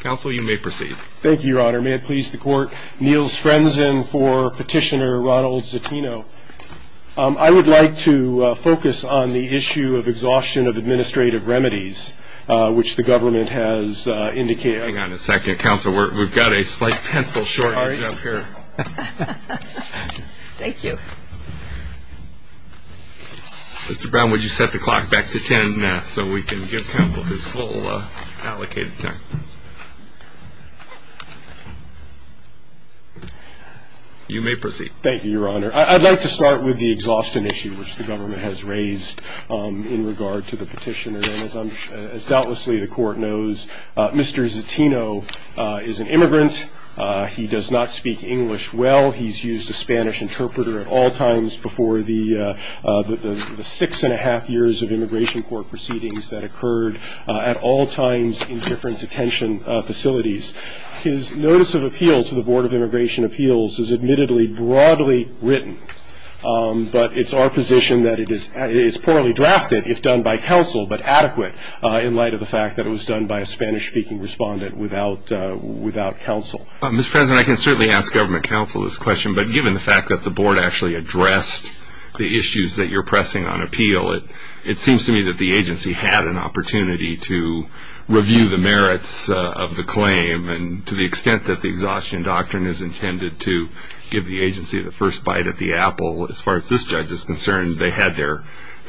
Counsel, you may proceed. Thank you, Your Honor. May it please the Court, Niels Frenzen for Petitioner Ronald Zetino. I would like to focus on the issue of exhaustion of administrative remedies, which the government has indicated. Hang on a second, Counsel. We've got a slight pencil shortage up here. Thank you. Mr. Brown, would you set the clock back to ten so we can give Counsel his full allocated time? You may proceed. Thank you, Your Honor. I'd like to start with the exhaustion issue, which the government has raised in regard to the petitioner. And as doubtlessly the Court knows, Mr. Zetino is an immigrant. He does not speak English well. He's used a Spanish interpreter at all times before the six-and-a-half years of immigration court proceedings that occurred at all times in different detention facilities. His notice of appeal to the Board of Immigration Appeals is admittedly broadly written, but it's our position that it is poorly drafted, if done by Counsel, but adequate in light of the fact that it was done by a Spanish-speaking respondent without Counsel. Mr. Frenzen, I can certainly ask Government Counsel this question, but given the fact that the Board actually addressed the issues that you're pressing on appeal, it seems to me that the agency had an opportunity to review the merits of the claim. And to the extent that the exhaustion doctrine is intended to give the agency the first bite of the apple, as far as this judge is concerned, they had their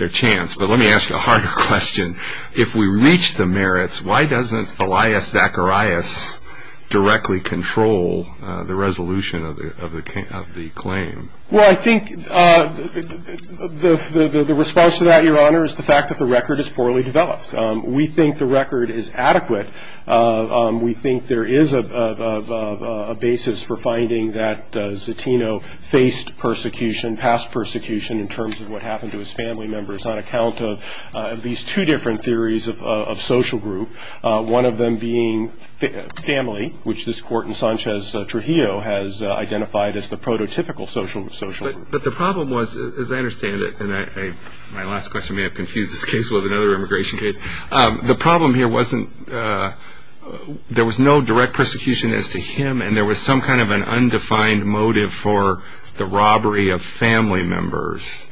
chance. But let me ask a harder question. If we reach the merits, why doesn't Elias Zacharias directly control the resolution of the claim? Well, I think the response to that, Your Honor, is the fact that the record is poorly developed. We think the record is adequate. We think there is a basis for finding that Zetino faced persecution, in terms of what happened to his family members, on account of these two different theories of social group, one of them being family, which this Court in Sanchez-Trujillo has identified as the prototypical social group. But the problem was, as I understand it, and my last question may have confused this case with another immigration case, the problem here wasn't there was no direct persecution as to him, and there was some kind of an undefined motive for the robbery of family members.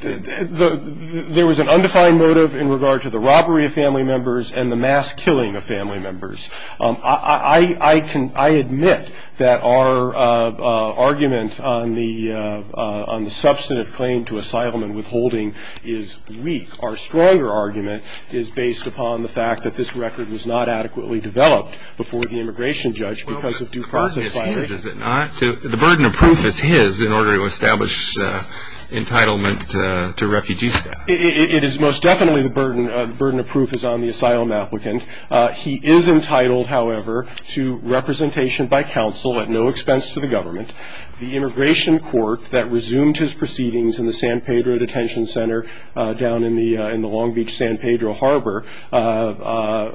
There was an undefined motive in regard to the robbery of family members and the mass killing of family members. I admit that our argument on the substantive claim to asylum and withholding is weak. Our stronger argument is based upon the fact that this record was not adequately developed before the immigration judge because of due process liability. Well, the burden is his, is it not? The burden of proof is his in order to establish entitlement to refugee staff. It is most definitely the burden of proof is on the asylum applicant. He is entitled, however, to representation by counsel at no expense to the government. The immigration court that resumed his proceedings in the San Pedro Detention Center down in the Long Beach San Pedro Harbor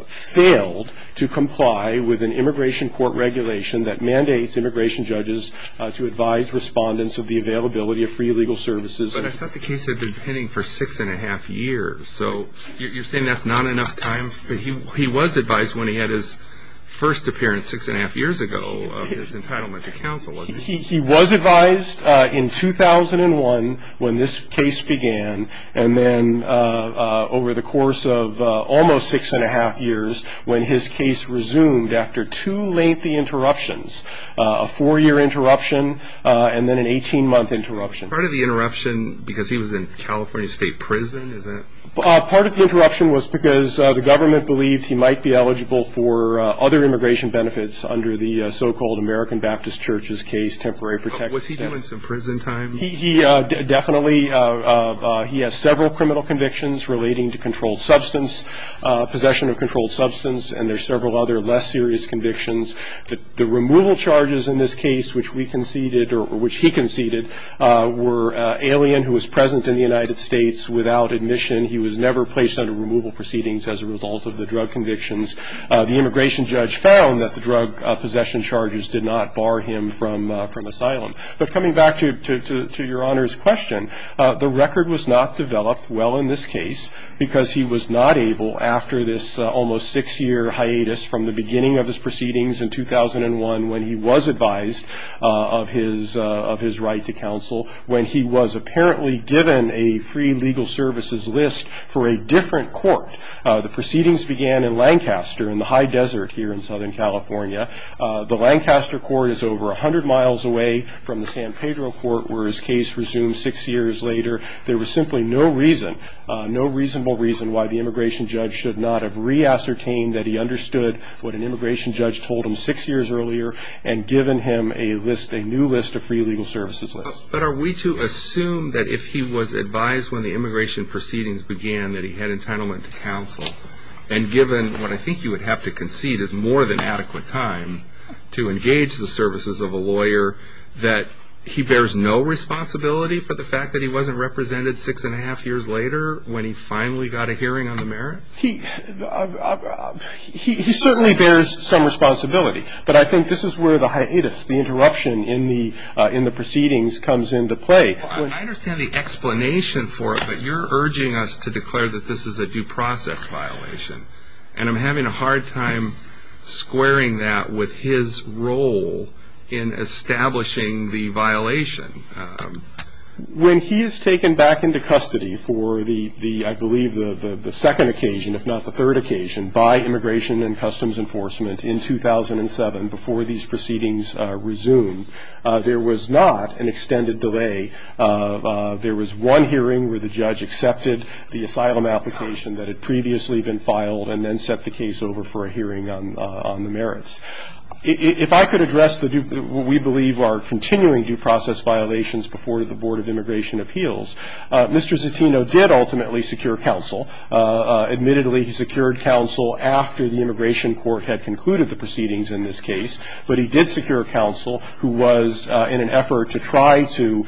failed to comply with an immigration court regulation that mandates immigration judges to advise respondents of the availability of free legal services. But I thought the case had been pending for six and a half years. So you're saying that's not enough time? He was advised when he had his first appearance six and a half years ago of his entitlement to counsel. He was advised in 2001 when this case began and then over the course of almost six and a half years when his case resumed after two lengthy interruptions, a four-year interruption and then an 18-month interruption. Part of the interruption because he was in California State Prison, is that it? Part of the interruption was because the government believed he might be eligible for other immigration benefits under the so-called American Baptist Church's case, temporary protection. Was he doing some prison time? Definitely. He has several criminal convictions relating to controlled substance, possession of controlled substance, and there are several other less serious convictions. The removal charges in this case, which we conceded or which he conceded, were alien, who was present in the United States without admission. He was never placed under removal proceedings as a result of the drug convictions. The immigration judge found that the drug possession charges did not bar him from asylum. But coming back to Your Honor's question, the record was not developed well in this case because he was not able after this almost six-year hiatus from the beginning of his proceedings in 2001 when he was advised of his right to counsel, when he was apparently given a free legal services list for a different court. The proceedings began in Lancaster in the high desert here in Southern California. The Lancaster court is over 100 miles away from the San Pedro court where his case resumed six years later. There was simply no reason, no reasonable reason, why the immigration judge should not have re-ascertained that he understood what an immigration judge told him six years earlier and given him a list, a new list of free legal services lists. But are we to assume that if he was advised when the immigration proceedings began that he had entitlement to counsel and given what I think you would have to concede is more than adequate time to engage the services of a lawyer, that he bears no responsibility for the fact that he wasn't represented six-and-a-half years later when he finally got a hearing on the merits? He certainly bears some responsibility, but I think this is where the hiatus, the interruption in the proceedings comes into play. I understand the explanation for it, but you're urging us to declare that this is a due process violation, and I'm having a hard time squaring that with his role in establishing the violation. When he is taken back into custody for the, I believe, the second occasion, if not the third occasion, by Immigration and Customs Enforcement in 2007, before these proceedings resumed, there was not an extended delay. There was one hearing where the judge accepted the asylum application that had previously been filed and then set the case over for a hearing on the merits. If I could address what we believe are continuing due process violations before the Board of Immigration Appeals, Mr. Zettino did ultimately secure counsel. Admittedly, he secured counsel after the Immigration Court had concluded the proceedings in this case, but he did secure counsel who was in an effort to try to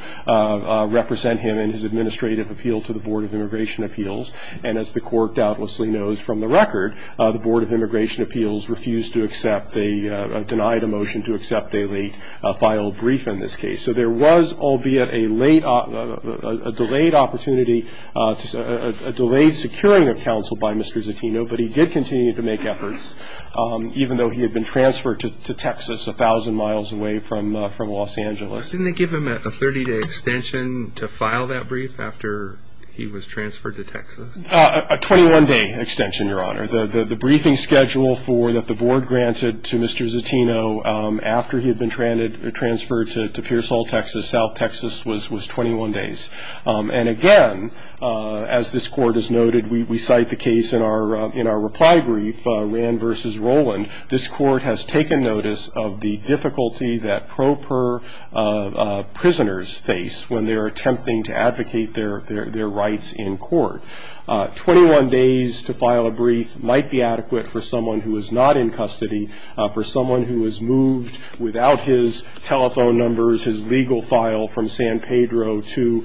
represent him in his administrative appeal to the Board of Immigration Appeals. And as the Court doubtlessly knows from the record, the Board of Immigration Appeals refused to accept the, denied a motion to accept a late filed brief in this case. So there was, albeit, a late, a delayed opportunity, a delayed securing of counsel by Mr. Zettino, but he did continue to make efforts, even though he had been transferred to Texas a thousand miles away from Los Angeles. Didn't they give him a 30-day extension to file that brief after he was transferred to Texas? A 21-day extension, Your Honor. The briefing schedule for, that the Board granted to Mr. Zettino after he had been transferred to Pearsall, Texas, South Texas, was 21 days. And again, as this Court has noted, we cite the case in our reply brief, Rand v. Roland. This Court has taken notice of the difficulty that pro per prisoners face when they are attempting to advocate their rights in court. Twenty-one days to file a brief might be adequate for someone who is not in custody, for someone who was moved without his telephone numbers, his legal file, from San Pedro to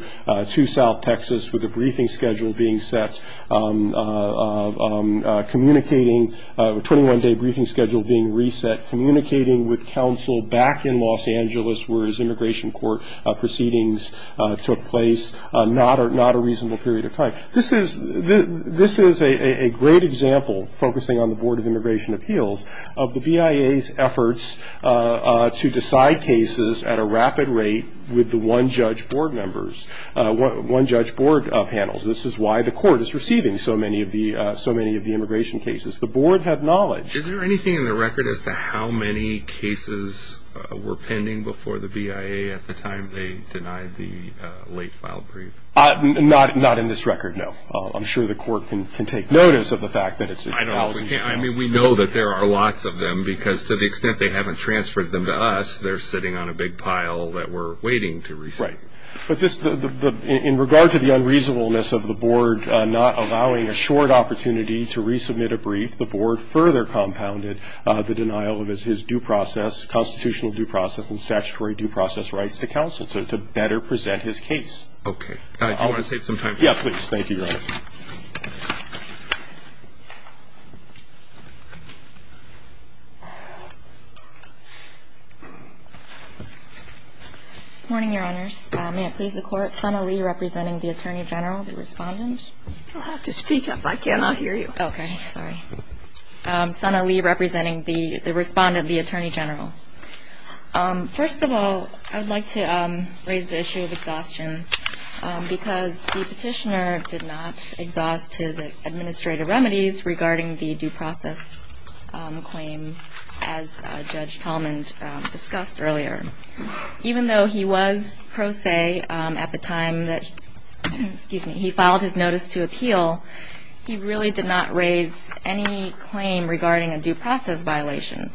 South Texas, with a briefing schedule being set, communicating, a 21-day briefing schedule being reset, communicating with counsel back in Los Angeles, where his immigration court proceedings took place, not a reasonable period of time. This is a great example, focusing on the Board of Immigration Appeals, of the BIA's efforts to decide cases at a rapid rate with the one-judge board members, one-judge board panels. This is why the Court is receiving so many of the immigration cases. The Board had knowledge. Is there anything in the record as to how many cases were pending before the BIA at the time they denied the late-filed brief? Not in this record, no. I'm sure the Court can take notice of the fact that it's a challenging process. I mean, we know that there are lots of them, because to the extent they haven't transferred them to us, they're sitting on a big pile that we're waiting to receive. Right. But in regard to the unreasonableness of the Board not allowing a short opportunity to resubmit a brief, the Board further compounded the denial of his due process, constitutional due process and statutory due process rights to counsel to better present his case. Okay. I want to save some time for that. Yeah, please. Thank you, Your Honor. Good morning, Your Honors. May it please the Court. Sana Lee representing the Attorney General, the Respondent. You'll have to speak up. I cannot hear you. Okay. Sorry. Sana Lee representing the Respondent, the Attorney General. First of all, I would like to raise the issue of exhaustion, because the petitioner did not exhaust his administrative remedies regarding the due process claim, as Judge Tallman discussed earlier. Even though he was pro se at the time that he filed his notice to appeal, he really did not raise any claim regarding a due process violation.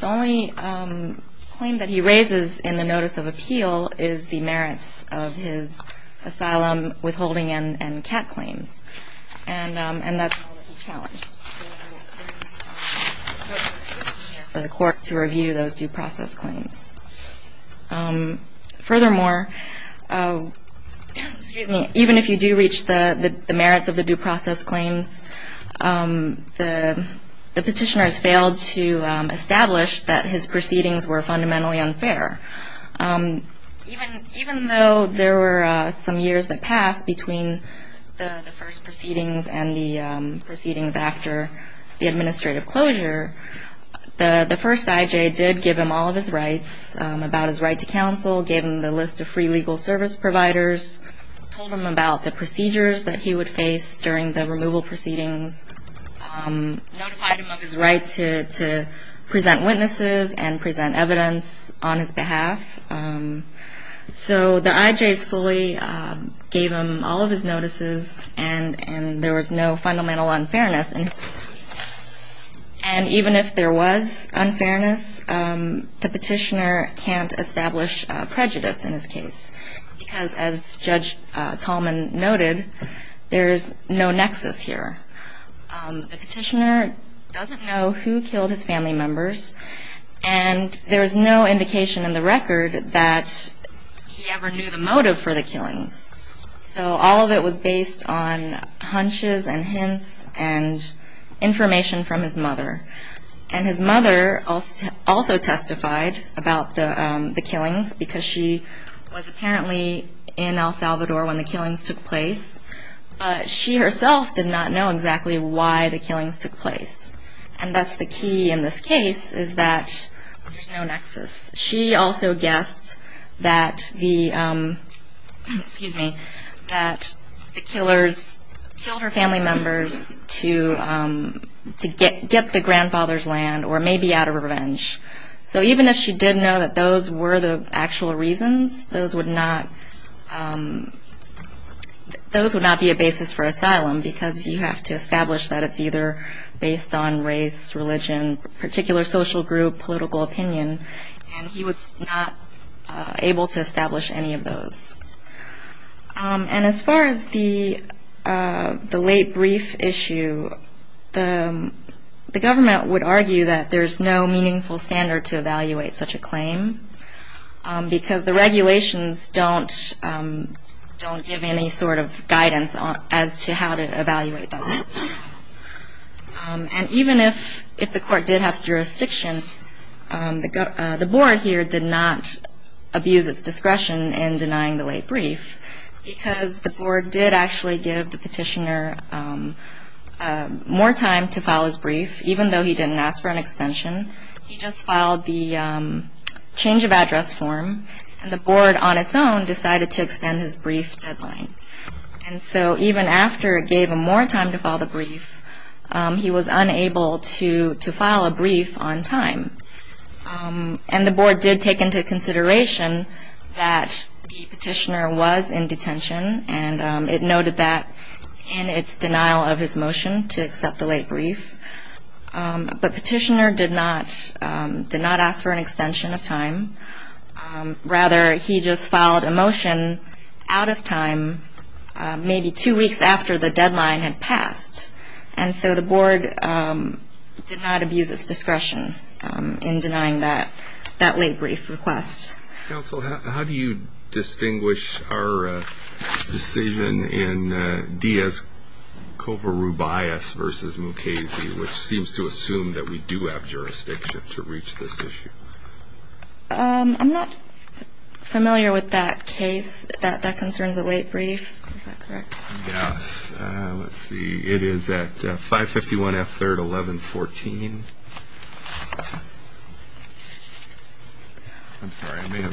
The only claim that he raises in the notice of appeal is the merits of his asylum withholding and CAT claims, and that's all that he challenged for the Court to review those due process claims. Furthermore, even if you do reach the merits of the due process claims, the petitioner has failed to establish that his proceedings were fundamentally unfair. Even though there were some years that passed between the first proceedings and the proceedings after the administrative closure, the first IJ did give him all of his rights about his right to counsel, gave him the list of free legal service providers, told him about the procedures that he would face during the removal proceedings, notified him of his right to present witnesses and present evidence on his behalf. So the IJs fully gave him all of his notices, and there was no fundamental unfairness. And even if there was unfairness, the petitioner can't establish prejudice in his case, because as Judge Tallman noted, there is no nexus here. The petitioner doesn't know who killed his family members, and there is no indication in the record that he ever knew the motive for the killings. So all of it was based on hunches and hints and information from his mother. And his mother also testified about the killings, because she was apparently in El Salvador when the killings took place, but she herself did not know exactly why the killings took place. And that's the key in this case, is that there's no nexus. She also guessed that the killers killed her family members to get the grandfather's land, or maybe out of revenge. So even if she did know that those were the actual reasons, those would not be a basis for asylum, because you have to establish that it's either based on race, religion, particular social group, political opinion. And he was not able to establish any of those. And as far as the late brief issue, the government would argue that there's no meaningful standard to evaluate such a claim, because the regulations don't give any sort of guidance as to how to evaluate those. And even if the court did have jurisdiction, the board here did not abuse its discretion in denying the late brief, because the board did actually give the petitioner more time to file his brief, even though he didn't ask for an extension. He just filed the change of address form, and the board on its own decided to extend his brief deadline. And so even after it gave him more time to file the brief, he was unable to file a brief on time. And the board did take into consideration that the petitioner was in detention, and it noted that in its denial of his motion to accept the late brief. But petitioner did not ask for an extension of time. Rather, he just filed a motion out of time, maybe two weeks after the deadline had passed. And so the board did not abuse its discretion in denying that late brief request. Counsel, how do you distinguish our decision in Diaz-Covarrubias v. Mukasey, which seems to assume that we do have jurisdiction to reach this issue? I'm not familiar with that case, that concerns a late brief. Is that correct? Yes. Let's see. It is at 551 F. 3rd, 1114. I'm sorry. I may have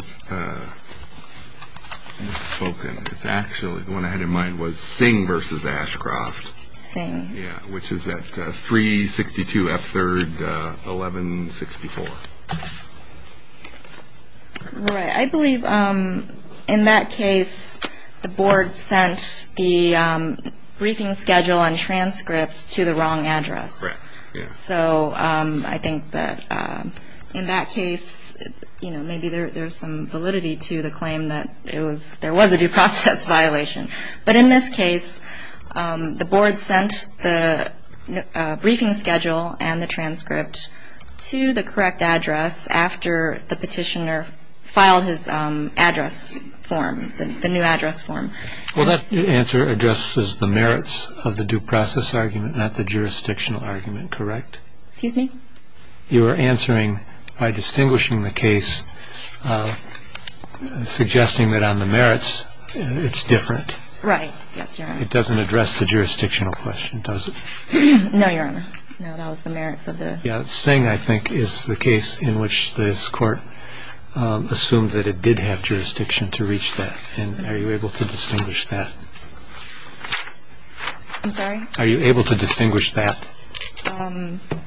misspoken. It's actually, the one I had in mind was Singh v. Ashcroft. Singh. Yeah, which is at 362 F. 3rd, 1164. Right. I believe in that case, the board sent the briefing schedule and transcript to the wrong address. Correct. So I think that in that case, maybe there's some validity to the claim that there was a due process violation. But in this case, the board sent the briefing schedule and the transcript to the correct address after the petitioner filed his address form, the new address form. Well, that answer addresses the merits of the due process argument, not the jurisdictional argument. Correct? Excuse me? You are answering by distinguishing the case, suggesting that on the merits, it's different. Right. Yes, Your Honor. It doesn't address the jurisdictional question, does it? No, Your Honor. No, that was the merits of the... Yeah, Singh, I think, is the case in which this court assumed that it did have jurisdiction to reach that. And are you able to distinguish that? I'm sorry? Are you able to distinguish that?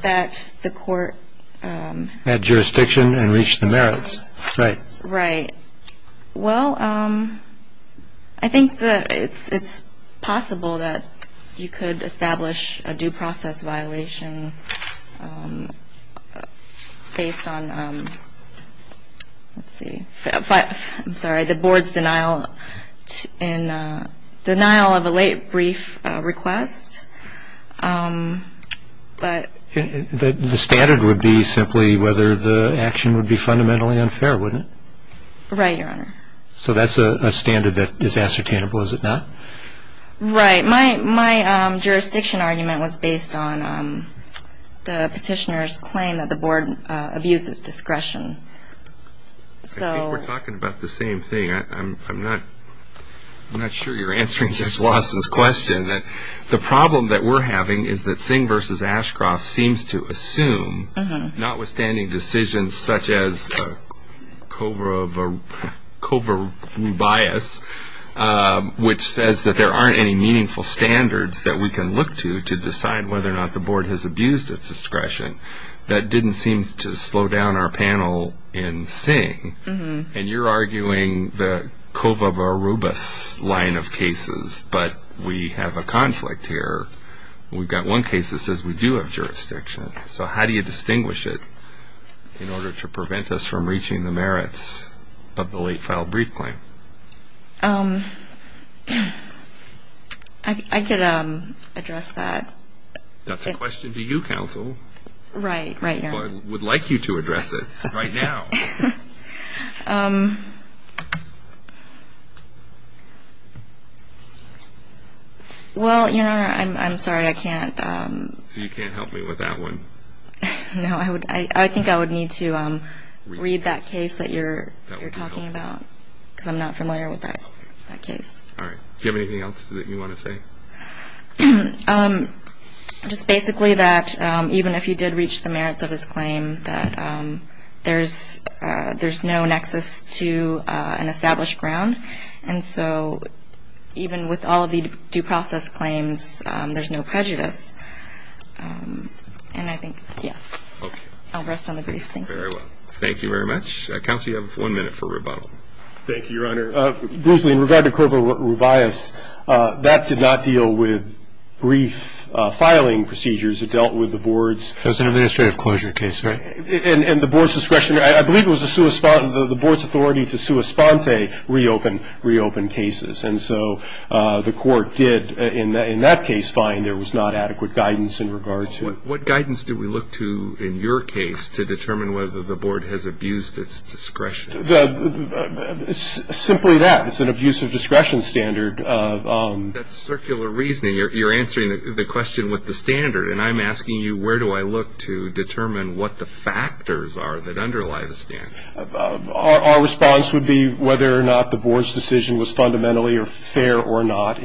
That the court... Had jurisdiction and reached the merits. Right. Right. Well, I think that it's possible that you could establish a due process violation based on, let's see, I'm sorry, the board's denial of a late brief request. But... The standard would be simply whether the action would be fundamentally unfair, wouldn't it? Right, Your Honor. So that's a standard that is ascertainable, is it not? Right. My jurisdiction argument was based on the petitioner's claim that the board abused its discretion. I think we're talking about the same thing. I'm not sure you're answering Judge Lawson's question. The problem that we're having is that Singh v. Ashcroft seems to assume, notwithstanding decisions such as Kovarubias, which says that there aren't any meaningful standards that we can look to to decide whether or not the board has abused its discretion. That didn't seem to slow down our panel in Singh. And you're arguing the Kovarubias line of cases, but we have a conflict here. We've got one case that says we do have jurisdiction. So how do you distinguish it in order to prevent us from reaching the merits of the late filed brief claim? I could address that. That's a question to you, counsel. Right, Your Honor. So I would like you to address it right now. Well, Your Honor, I'm sorry, I can't. So you can't help me with that one? No, I think I would need to read that case that you're talking about because I'm not familiar with that case. All right. Do you have anything else that you want to say? Just basically that even if you did reach the merits of his claim, that there's no nexus to an established ground. And so even with all of the due process claims, there's no prejudice. And I think, yes. Okay. I'll rest on the briefs, thank you. Very well. Thank you very much. Counsel, you have one minute for rebuttal. Thank you, Your Honor. Bruce Lee, in regard to Kovarubias, that did not deal with brief filing procedures. It dealt with the board's. It was an administrative closure case, right? And the board's discretion. I believe it was the board's authority to sua sponte reopen cases. And so the court did in that case find there was not adequate guidance in regard to. What guidance do we look to in your case to determine whether the board has abused its discretion? Simply that. It's an abusive discretion standard. That's circular reasoning. You're answering the question with the standard, and I'm asking you where do I look to determine what the factors are that underlie the standard. Our response would be whether or not the board's decision was fundamentally fair or not.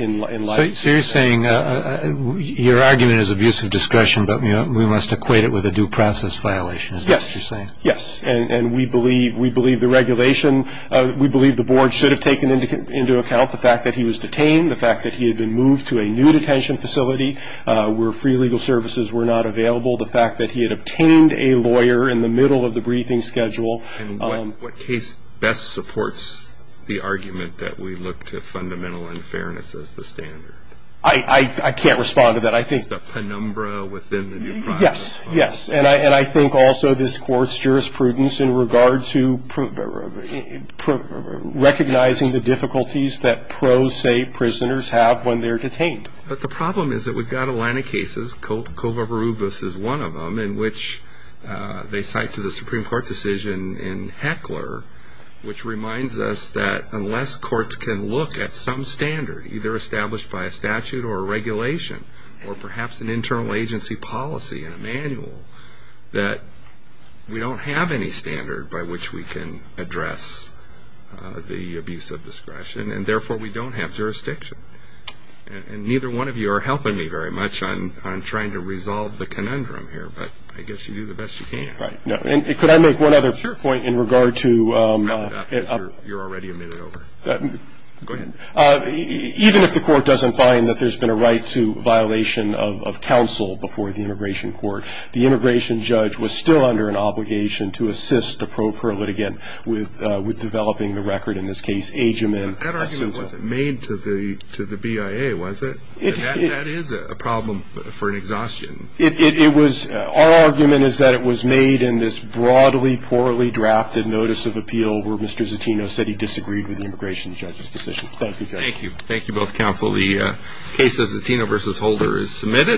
So you're saying your argument is abusive discretion, but we must equate it with a due process violation, is that what you're saying? Yes. Yes. And we believe the regulation, we believe the board should have taken into account the fact that he was detained, the fact that he had been moved to a new detention facility where free legal services were not available, the fact that he had obtained a lawyer in the middle of the briefing schedule. And what case best supports the argument that we look to fundamental unfairness as the standard? I can't respond to that. I think. The penumbra within the due process. Yes. Yes. And I think also this Court's jurisprudence in regard to recognizing the difficulties that pros, say, prisoners have when they're detained. But the problem is that we've got a line of cases, Kovarubis is one of them, in which they cite to the Supreme Court decision in Heckler, which reminds us that unless courts can look at some standard, either established by a statute or a regulation, or perhaps an internal agency policy and a manual, that we don't have any standard by which we can address the abuse of discretion, and therefore we don't have jurisdiction. And neither one of you are helping me very much on trying to resolve the conundrum here, but I guess you do the best you can. Right. No. And could I make one other point in regard to. Sure. You're already a minute over. Go ahead. Even if the Court doesn't find that there's been a right to violation of counsel before the Immigration Court, the immigration judge was still under an obligation to assist a pro per litigant with developing the record. In this case, age him in. But that argument wasn't made to the BIA, was it? That is a problem for an exhaustion. It was. Our argument is that it was made in this broadly, poorly drafted notice of appeal where Mr. Zatino said he disagreed with the immigration judge's decision. Thank you, Judge. Thank you. Thank you both, counsel. The case of Zatino v. Holder is submitted.